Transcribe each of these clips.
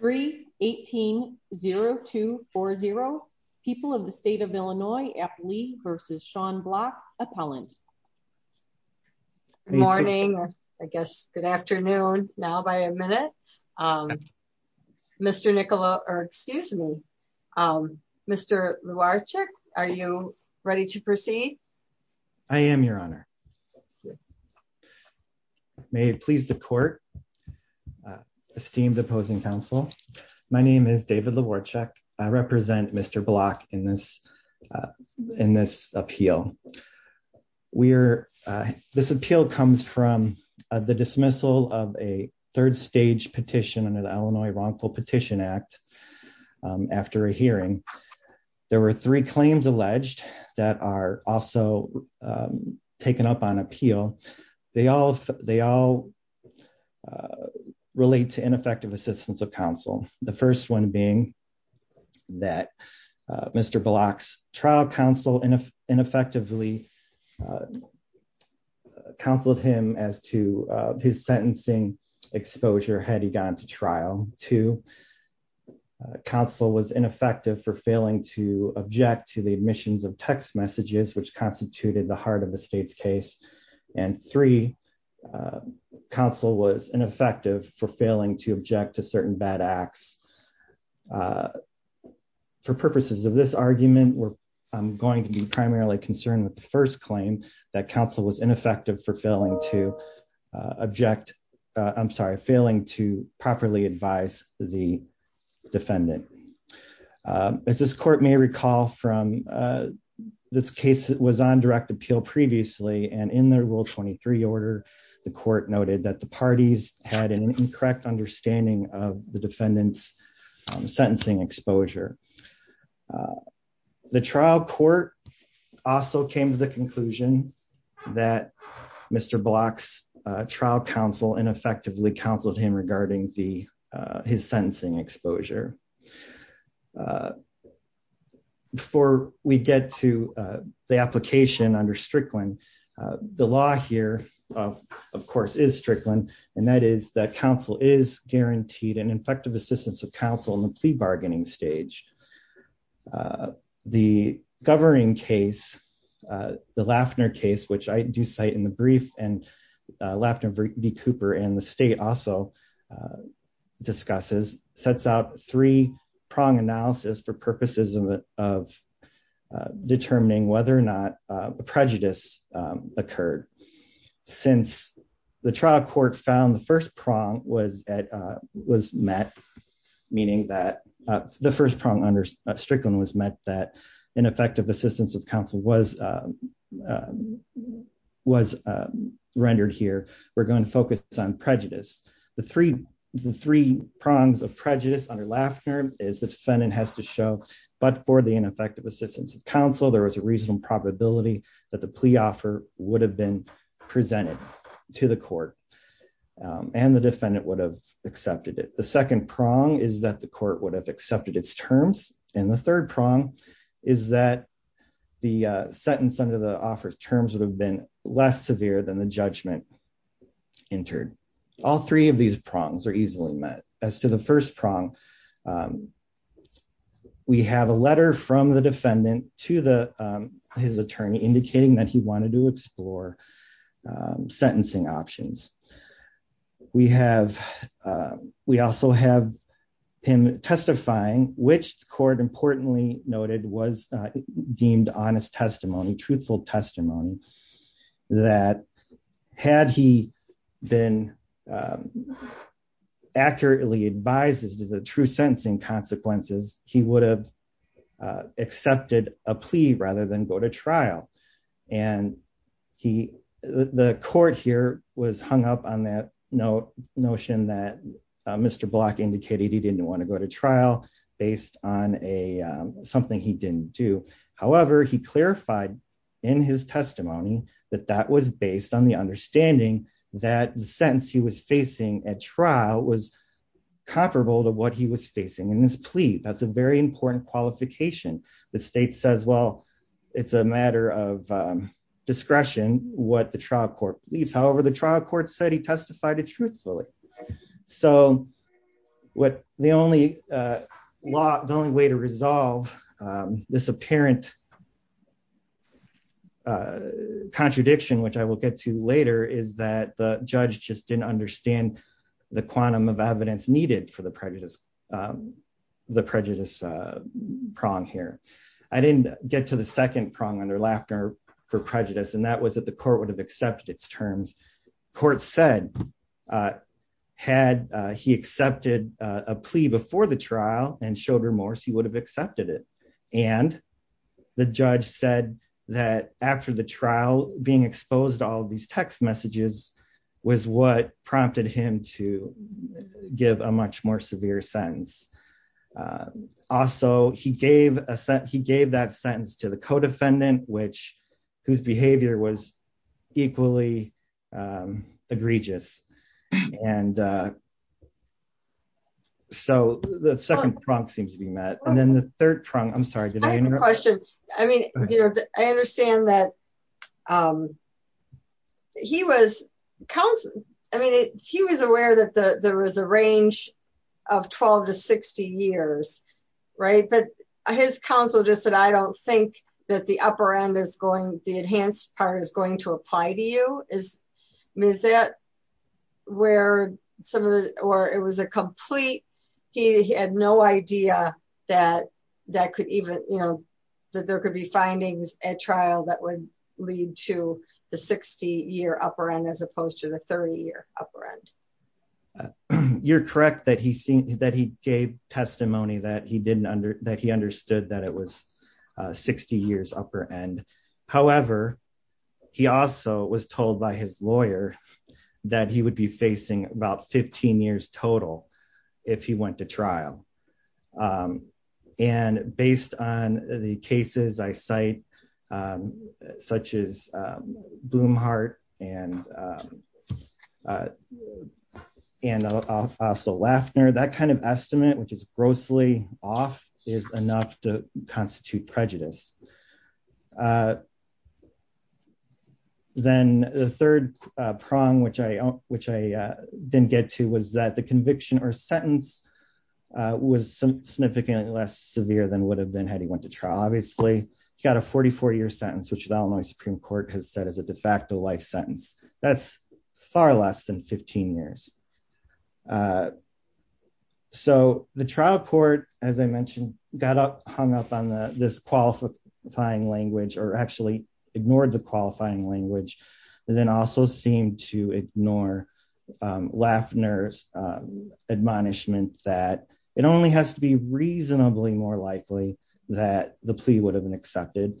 3 1802 40 people of the state of Illinois at Lee vs. Sean Block appellant morning I guess good afternoon now by a minute Mr. Nicola or excuse me Mr. Luarchick are you ready to My name is David Luarchick. I represent Mr. Block in this in this appeal. We're this appeal comes from the dismissal of a third stage petition under the Illinois Wrongful Petition Act after a hearing. There were three claims alleged that are also taken up on appeal. They all they all relate to ineffective assistance of counsel. The first one being that Mr. Block's trial counsel ineffectively counseled him as to his sentencing exposure had he gone to trial to counsel was ineffective for failing to object to the admissions of text messages which constituted the heart of the state's case and three counsel was ineffective for failing to object to certain bad acts. For purposes of this argument we're going to be primarily concerned with the first claim that counsel was ineffective for failing to object I'm sorry failing to properly advise the defendant. As this court may recall from this case that was on direct appeal previously and in their rule 23 order the court noted that the parties had an incorrect understanding of the defendant's sentencing exposure. The trial court also came to the conclusion that Mr. Block's trial counsel ineffectively counseled him regarding the his sentencing exposure. Before we get to the application under Strickland the law here of course is Strickland and that is that counsel is guaranteed an effective assistance of counsel in the plea bargaining stage. The Governing case the Lafner case which I do cite in the brief and Lafner v. Cooper and the state also discusses sets out three prong analysis for purposes of determining whether or occurred. Since the trial court found the first prong was met meaning that the first prong under Strickland was met that ineffective assistance of counsel was rendered here we're going to focus on prejudice. The three prongs of prejudice under Lafner is the defendant has to show but for the would have been presented to the court and the defendant would have accepted it. The second prong is that the court would have accepted its terms and the third prong is that the sentence under the offer terms would have been less severe than the judgment entered. All three of these prongs are easily met. As to the first prong we have a letter from the defendant to the his attorney indicating that he wanted to explore sentencing options. We have we also have him testifying which court importantly noted was deemed honest testimony truthful testimony that had he been accurately advised as to the true sentencing consequences he would have accepted a plea rather than go to trial. And he the court here was hung up on that no notion that Mr. Block indicated he didn't want to go to trial based on a something he didn't do. However he clarified in his testimony that that was based on the understanding that the sentence he was facing at trial was comparable to what he was facing in his plea. That's a very important qualification. The state says well it's a matter of discretion what the trial court believes. However the trial court said he testified it truthfully. So what the only law the only way to resolve this apparent contradiction which I will get to later is that the judge just didn't understand the quantum of evidence needed for the prejudice the prejudice prong here. I didn't get to the second prong on their laughter for prejudice and that was that the court would have accepted its terms. Court said had he accepted a plea before the trial and showed remorse he would have accepted it and the judge said that after the trial being exposed all these text messages was what prompted him to give a much more severe sentence. Also he gave a set he gave that sentence to the co-defendant which whose behavior was equally egregious and so the second prong seems to be met and then the third prong I'm sorry I have a question. I mean you know I understand that um he was counseling I mean he was aware that the there was a range of 12 to 60 years right but his counsel just said I don't think that the upper end is going the enhanced part is going to apply to you is I mean is that where some of the or it was a complete he had no idea that that could even you know that there could be findings at trial that would lead to the 60 year upper end as opposed to the 30 year upper end. You're correct that he seemed that he gave testimony that he didn't under that he understood that it was 60 years upper end however he also was told by his lawyer that he would be facing about 15 years total if he went to trial. And based on the cases I cite such as Blumhart and and also Laffner that kind of estimate which is grossly off is enough to constitute prejudice. Then the third prong which I which I didn't get to was that the conviction or sentence was significantly less severe than would have been had he went to trial. Obviously he got a 44 year sentence which the Illinois Supreme Court has said is a de facto life sentence that's far less than 15 years. So the trial court as I mentioned got up hung up on the this qualifying language or actually ignored the qualifying language and then also seemed to ignore Laffner's admonishment that it only has to be reasonably more likely that the plea would have been accepted.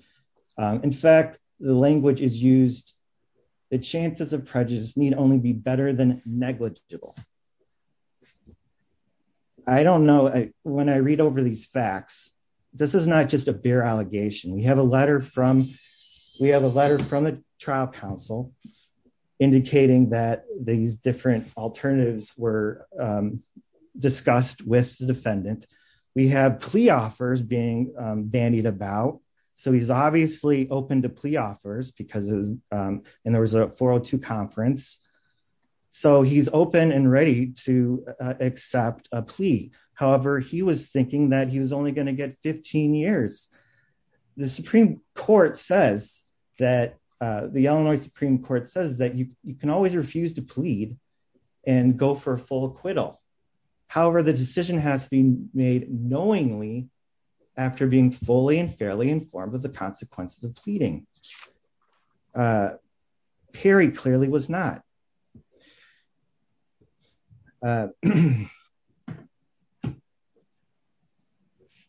In fact the language is used the chances of prejudice need only be better than negligible. I don't know when I read over these facts this is not just a bare allegation we have letter from we have a letter from the trial council indicating that these different alternatives were discussed with the defendant. We have plea offers being bandied about so he's obviously open to plea offers because and there was a 402 conference so he's open and ready to court says that the Illinois Supreme Court says that you can always refuse to plead and go for full acquittal. However the decision has been made knowingly after being fully and fairly informed of the consequences of pleading. Perry clearly was not.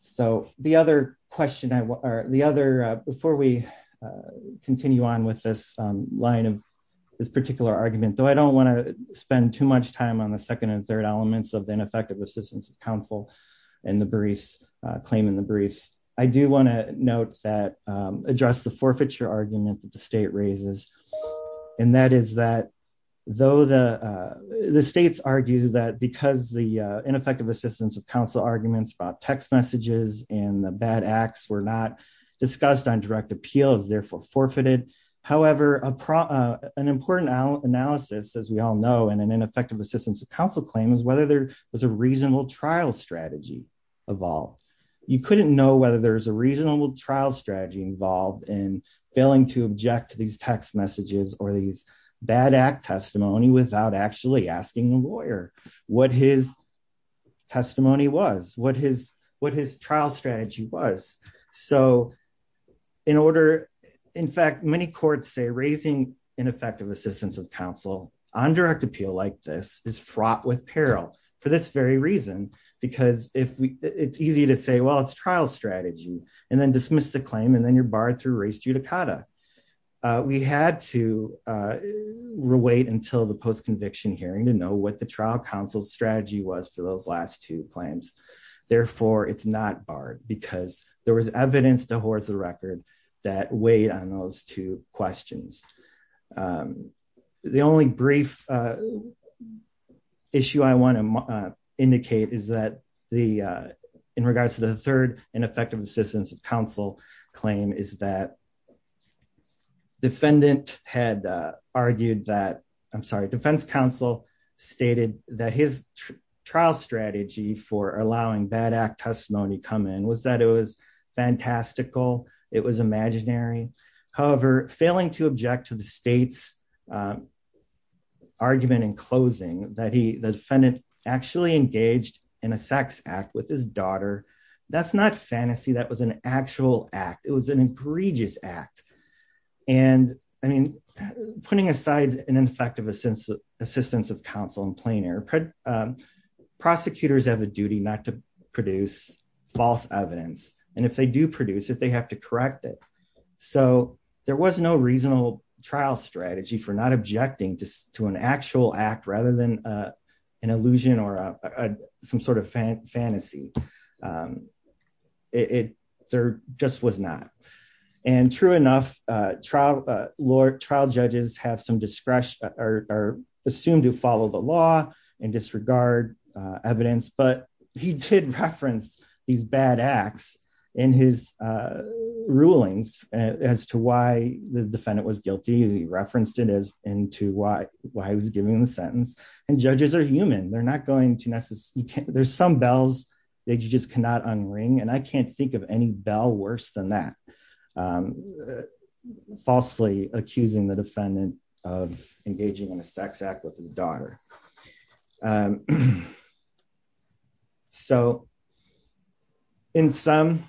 So the other question I or the other before we continue on with this line of this particular argument though I don't want to spend too much time on the second and third elements of the ineffective assistance of counsel and the barista claim in the briefs. I do want to note that address the forfeiture argument that the state raises and that is that though the the states argues that because the ineffective assistance of counsel arguments about text messages and the bad acts were not discussed on direct appeal is therefore forfeited. However an important analysis as we all know in an ineffective assistance of counsel claim is whether there was a reasonable trial strategy of all. You couldn't know whether there's a in failing to object to these text messages or these bad act testimony without actually asking the lawyer what his testimony was what his what his trial strategy was. So in order in fact many courts say raising ineffective assistance of counsel on direct appeal like this is fraught with peril for this very reason because if we it's easy to say well it's trial strategy and dismiss the claim and then you're barred through race judicata. We had to wait until the post conviction hearing to know what the trial counsel's strategy was for those last two claims. Therefore it's not barred because there was evidence to horse the record that weighed on those two questions. The only brief issue I want to indicate is that the in regards to the third ineffective assistance of counsel claim is that defendant had argued that I'm sorry defense counsel stated that his trial strategy for allowing bad act testimony come in was that it was fantastical it was imaginary. However failing to object to the state's argument in closing that he defendant actually engaged in a sex act with his daughter that's not fantasy that was an actual act it was an egregious act and I mean putting aside an ineffective assistance of counsel in plain air prosecutors have a duty not to produce false evidence and if they do produce it they have to correct it. So there was no reasonable trial strategy for not objecting to an actual act rather than an illusion or some sort of fantasy. There just was not and true enough trial trial judges have some discretion or are assumed to follow the law and disregard evidence but he did reference these bad acts in his rulings as to why the defendant was guilty. He referenced into why he was giving the sentence and judges are human they're not going to necessarily there's some bells that you just cannot unring and I can't think of any bell worse than that falsely accusing the defendant of engaging in a sex act with his daughter. So in sum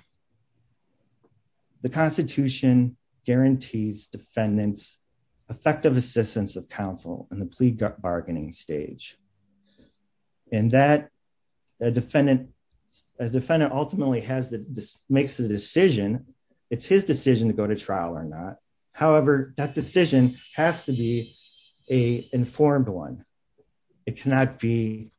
the constitution guarantees defendants effective assistance of counsel in the plea bargaining stage and that a defendant ultimately makes the decision it's his decision to go to it cannot be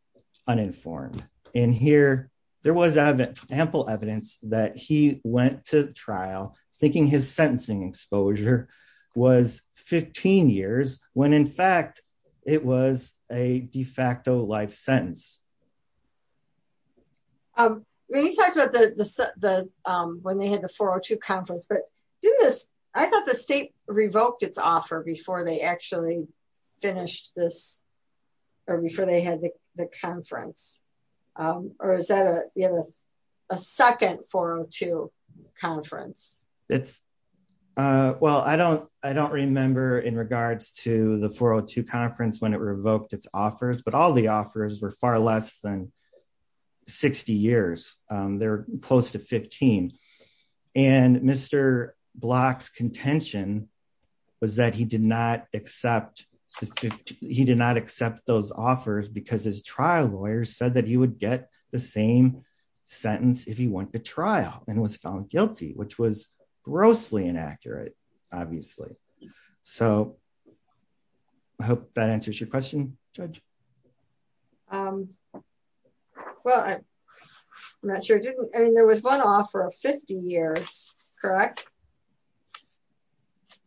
uninformed and here there was ample evidence that he went to trial thinking his sentencing exposure was 15 years when in fact it was a de facto life sentence. When you talked about the when they had the 402 conference but didn't this I thought the state revoked its offer before they actually finished this or before they had the conference or is that a a second 402 conference? Well I don't I don't remember in regards to the 402 conference when it revoked its offers but the offers were far less than 60 years they're close to 15 and Mr. Block's contention was that he did not accept he did not accept those offers because his trial lawyer said that he would get the same sentence if he went to trial and was found guilty which was grossly inaccurate obviously so I hope that answers your question judge. Well I'm not sure I didn't I mean there was one offer of 50 years correct?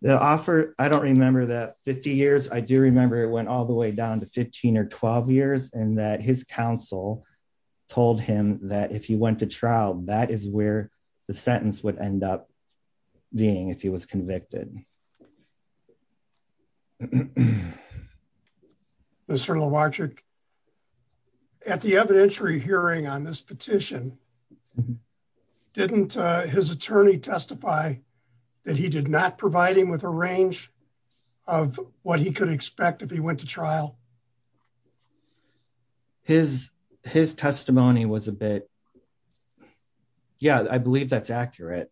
The offer I don't remember that 50 years I do remember it went all the way down to 15 or 12 years and that his counsel told him that if he went to trial that is where the sentence would end up being if he was convicted. Mr. Lovaczyk at the evidentiary hearing on this petition didn't his attorney testify that he did not provide him with a range of what he could expect if he went to trial? His testimony was a bit yeah I believe that's accurate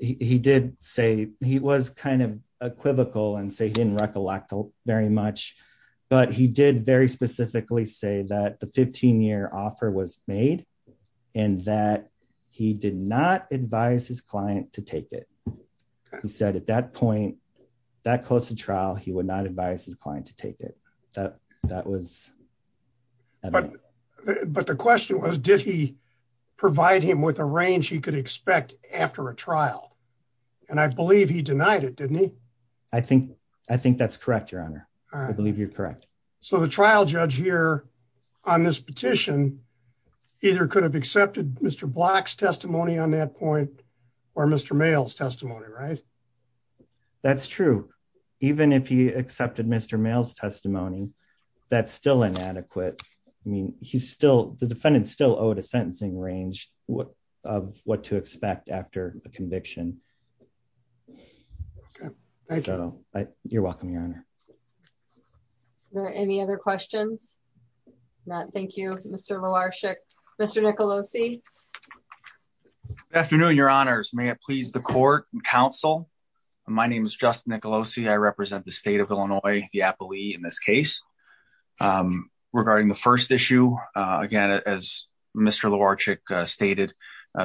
he did say he was kind of equivocal and say he didn't recollect very much but he did very specifically say that the 15-year offer was made and that he did not advise his client to take it he said at that point that close to trial he would advise his client to take it. But the question was did he provide him with a range he could expect after a trial and I believe he denied it didn't he? I think I think that's correct your honor I believe you're correct. So the trial judge here on this petition either could have accepted Mr. Block's testimony on that point or Mr. Mayles testimony right? That's true even if he accepted Mr. Mayles testimony that's still inadequate I mean he's still the defendant still owed a sentencing range what of what to expect after a conviction. Okay thank you you're welcome your honor. Are there any other questions? Not thank you Mr. Lovaczyk. Mr. Nicolosi. Good afternoon your honors may it please the court and council my name is Justin Nicolosi I represent the state of Illinois the appellee in this case. Regarding the first issue again as Mr. Lovaczyk stated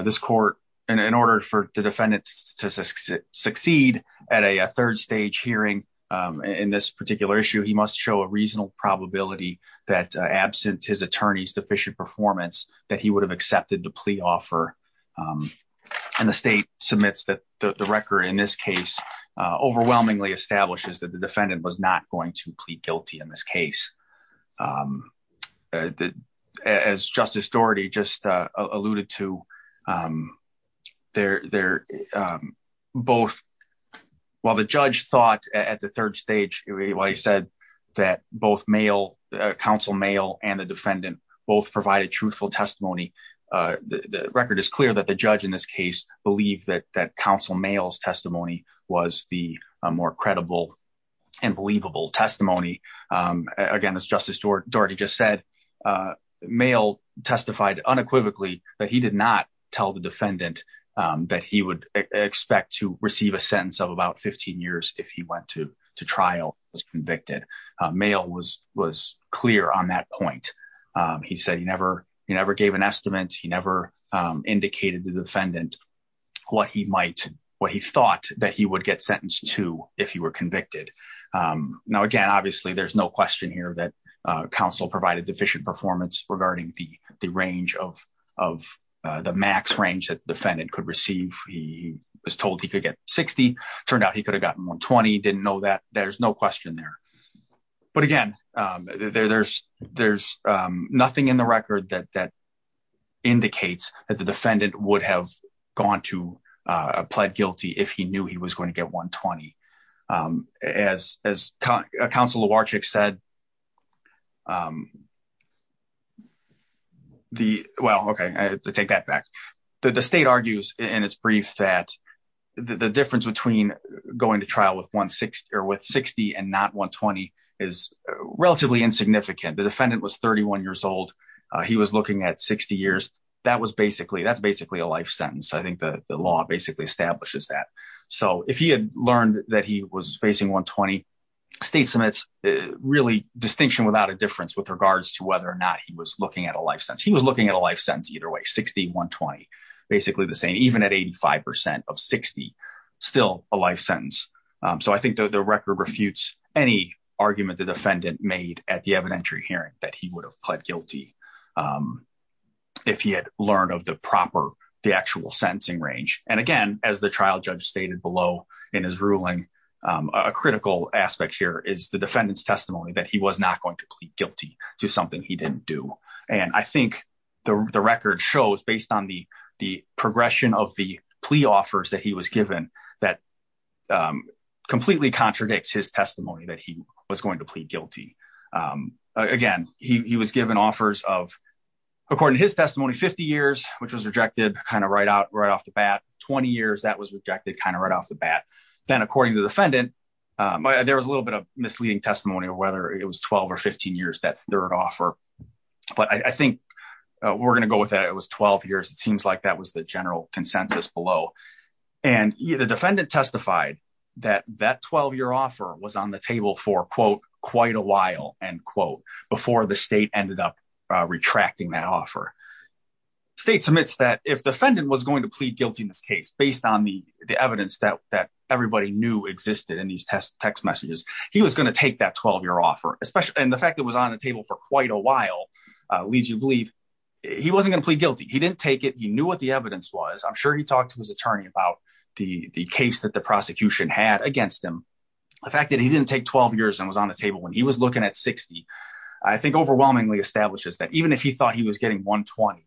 this court in order for the defendant to succeed at a third stage hearing in this particular issue he must show a reasonable probability that absent his attorney's deficient performance that he would have accepted the plea offer and the state submits that the record in this case overwhelmingly establishes that the defendant was not going to plead guilty in this case. As Justice Doherty just alluded to they're both while the judge thought at the third stage while he said that both council Mayles and the defendant both provided truthful testimony the record is clear that the judge in this case believed that that counsel Mayles testimony was the more credible and believable testimony. Again as Justice Doherty just said Mayle testified unequivocally that he did not tell the defendant that he would expect to receive a sentence of about 15 years if he went to to trial was convicted. Mayle was clear on that point he said he never he never gave an estimate he never indicated the defendant what he might what he thought that he would get sentenced to if he were convicted. Now again obviously there's no question here that counsel provided deficient performance regarding the the range of of the max range that defendant could receive he was told he could get 60 turned out he could have gotten 120 didn't know that there's no question there but again there there's there's nothing in the record that that indicates that the defendant would have gone to plead guilty if he knew he was going to get 120. As as counsel Lowarchik said the well okay I take that back the state argues in its that the difference between going to trial with 160 or with 60 and not 120 is relatively insignificant the defendant was 31 years old he was looking at 60 years that was basically that's basically a life sentence I think the the law basically establishes that so if he had learned that he was facing 120 state submits really distinction without a difference with regards to whether or not he was looking at a life sentence he was looking at a life sentence 60 120 basically the same even at 85 percent of 60 still a life sentence so I think the record refutes any argument the defendant made at the evidentiary hearing that he would have pled guilty if he had learned of the proper the actual sentencing range and again as the trial judge stated below in his ruling a critical aspect here is the defendant's testimony that he was not going to plead guilty to something he didn't do and I think the the record shows based on the the progression of the plea offers that he was given that completely contradicts his testimony that he was going to plead guilty again he was given offers of according to his testimony 50 years which was rejected kind of right out right off the bat 20 years that was rejected kind of right off the bat then according to the defendant there was a little bit of misleading testimony of whether it was 12 or 15 years that third offer but I think we're going to go with that it was 12 years it seems like that was the general consensus below and the defendant testified that that 12-year offer was on the table for quote quite a while end quote before the state ended up retracting that offer state submits that if defendant was going to plead guilty in this case based on the the evidence that that everybody knew existed in these text messages he was going to take that 12-year offer especially and the fact that was on the table for quite a while leads you to believe he wasn't going to plead guilty he didn't take it he knew what the evidence was I'm sure he talked to his attorney about the the case that the prosecution had against him the fact that he didn't take 12 years and was on the table when he was looking at 60 I think overwhelmingly establishes that even if he thought he was getting 120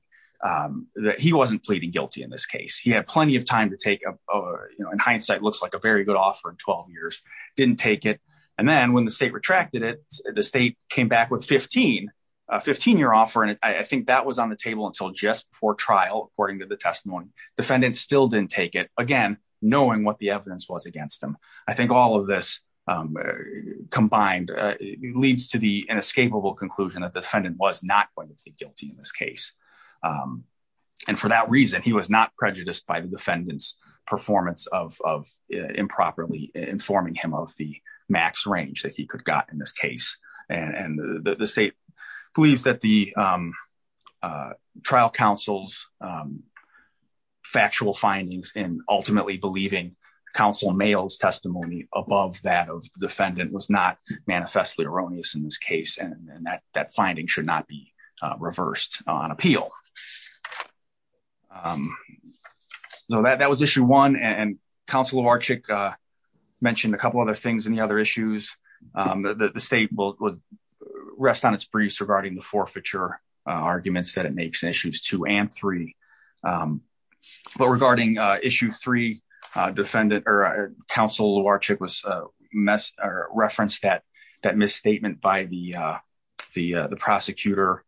that he wasn't pleading guilty in this case he had plenty of time to take a you know in hindsight looks like a very good offer in 12 years didn't take it and then when the state retracted it the state came back with 15 a 15-year offer and I think that was on the table until just before trial according to the testimony defendant still didn't take it again knowing what the evidence was against him I think all of this combined leads to the inescapable conclusion that defendant was not going to plead guilty in this case and for that reason he was not prejudiced by the defendant's performance of of improperly performing him of the max range that he could got in this case and the state believes that the trial counsel's factual findings in ultimately believing counsel males testimony above that of defendant was not manifestly erroneous in this case and that that finding should not be reversed on appeal um so that that was issue one and council of archic uh mentioned a couple other things in the other issues um the the state will rest on its briefs regarding the forfeiture arguments that it makes issues two and three um but regarding uh issue three uh defendant or council of archic was uh mess or reference that that misstatement by the uh the uh the prosecutor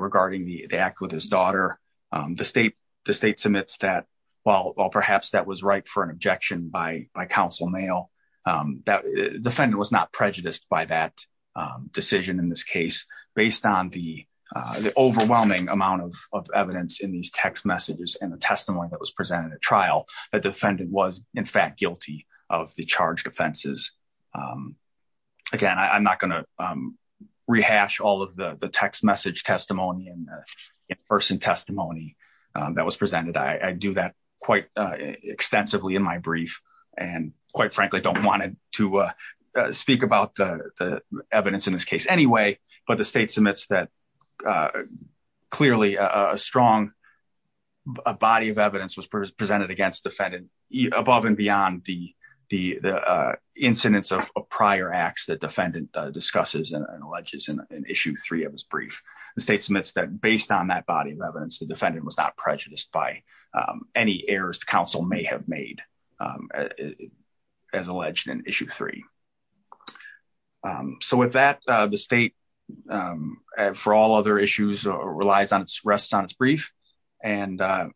regarding the act with his daughter um the state the state submits that well well perhaps that was right for an objection by by council mail um that defendant was not prejudiced by that decision in this case based on the uh the overwhelming amount of of evidence in these text messages and the of the charged offenses um again i'm not going to um rehash all of the the text message testimony and the in-person testimony um that was presented i i do that quite uh extensively in my brief and quite frankly don't want to uh speak about the the evidence in this case anyway but the state submits that uh clearly a strong a body of evidence was presented against defendant above and beyond the the the uh incidence of prior acts that defendant discusses and alleges in issue three of his brief the state submits that based on that body of evidence the defendant was not prejudiced by um any errors the council may have made um as alleged in issue three so with that uh the state um for all other issues or relies on its rest on its brief and uh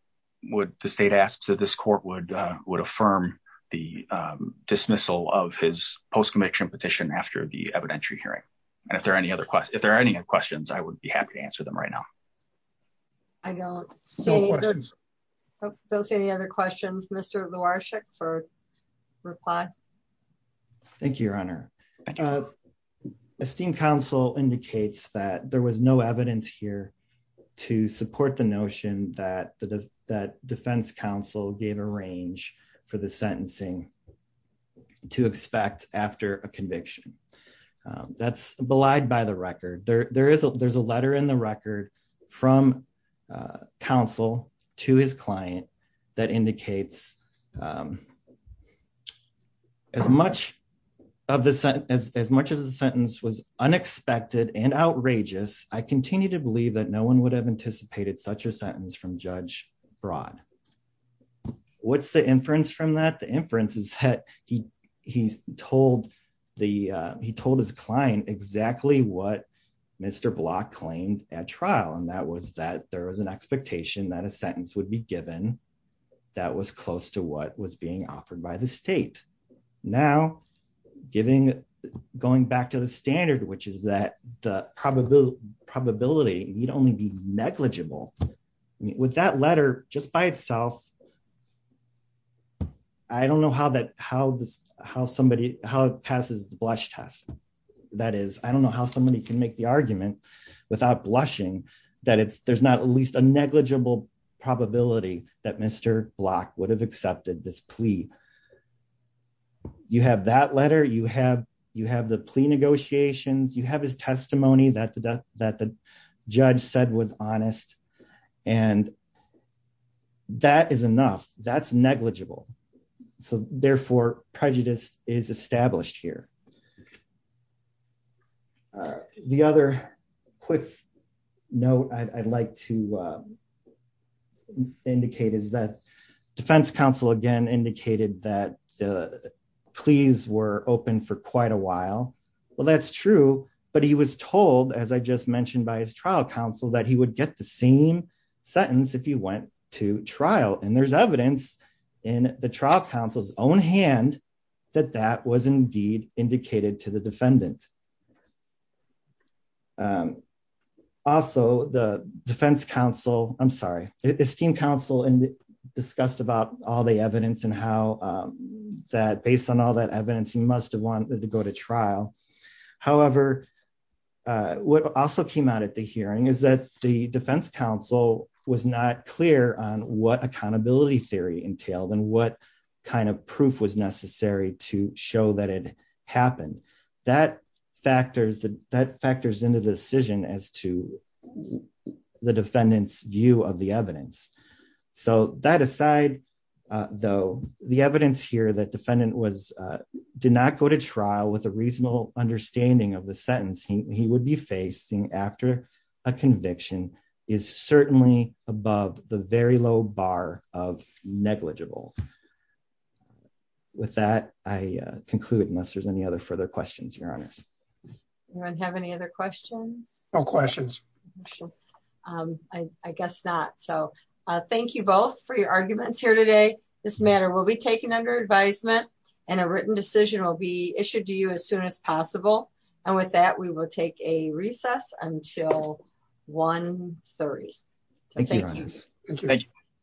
would the state asks that this court would uh would affirm the um dismissal of his post-conviction petition after the evidentiary hearing and if there are any other questions if there are any other questions i would be happy to answer them right now i don't say don't say any other questions mr lawrishick for reply thank you your honor uh esteemed council indicates that there was no evidence here to support the notion that the that defense council gave a range for the sentencing to expect after a conviction that's belied by the record there there is a there's a letter in the record from uh council to his client that indicates um as much of the sentence as much as the sentence was unexpected and outrageous i continue to believe that no one would have anticipated such a sentence from judge broad what's the inference from that the inference is that he he told the uh he told his client exactly what mr block claimed at trial and that was that there was an expectation that a sentence would be given that was close to what was being offered by the state now giving going back to the standard which is that the probability probability need only be negligible with that letter just by itself i don't know how that how this how somebody how it passes the blush test that is i don't know how somebody can make the argument without blushing that it's there's not at least a negligible probability that mr block would have accepted this plea you have that letter you have you have the plea negotiations you have his testimony that the death that the judge said was honest and that is enough that's negligible so therefore prejudice is established here uh the other quick note i'd like to uh indicate is that defense counsel again indicated that the pleas were open for quite a while well that's true but he was told as i just mentioned by his trial counsel that he would get the same sentence if he went to trial and there's evidence in the trial counsel's own hand that that was indeed indicated to the defendant um also the defense counsel i'm sorry esteemed counsel and discussed about all the evidence and how um that based on all that evidence he must have wanted to go to trial however uh what also came out at the hearing is that the defense counsel was not clear on what accountability theory entailed and what kind of proof was necessary to show that it happened that factors that factors into the decision as to the defendant's view of the evidence so that aside uh though the evidence here that defendant was uh did not go to trial with a reasonable understanding of the sentence he would be facing after a conviction is certainly above the very low bar of negligible with that i conclude unless there's any other further questions your honor anyone have any other questions no questions um i i guess not so uh thank you both for your arguments here today this matter will be taken under advisement and a written decision will be issued to you as soon as possible and with that we will take a thank you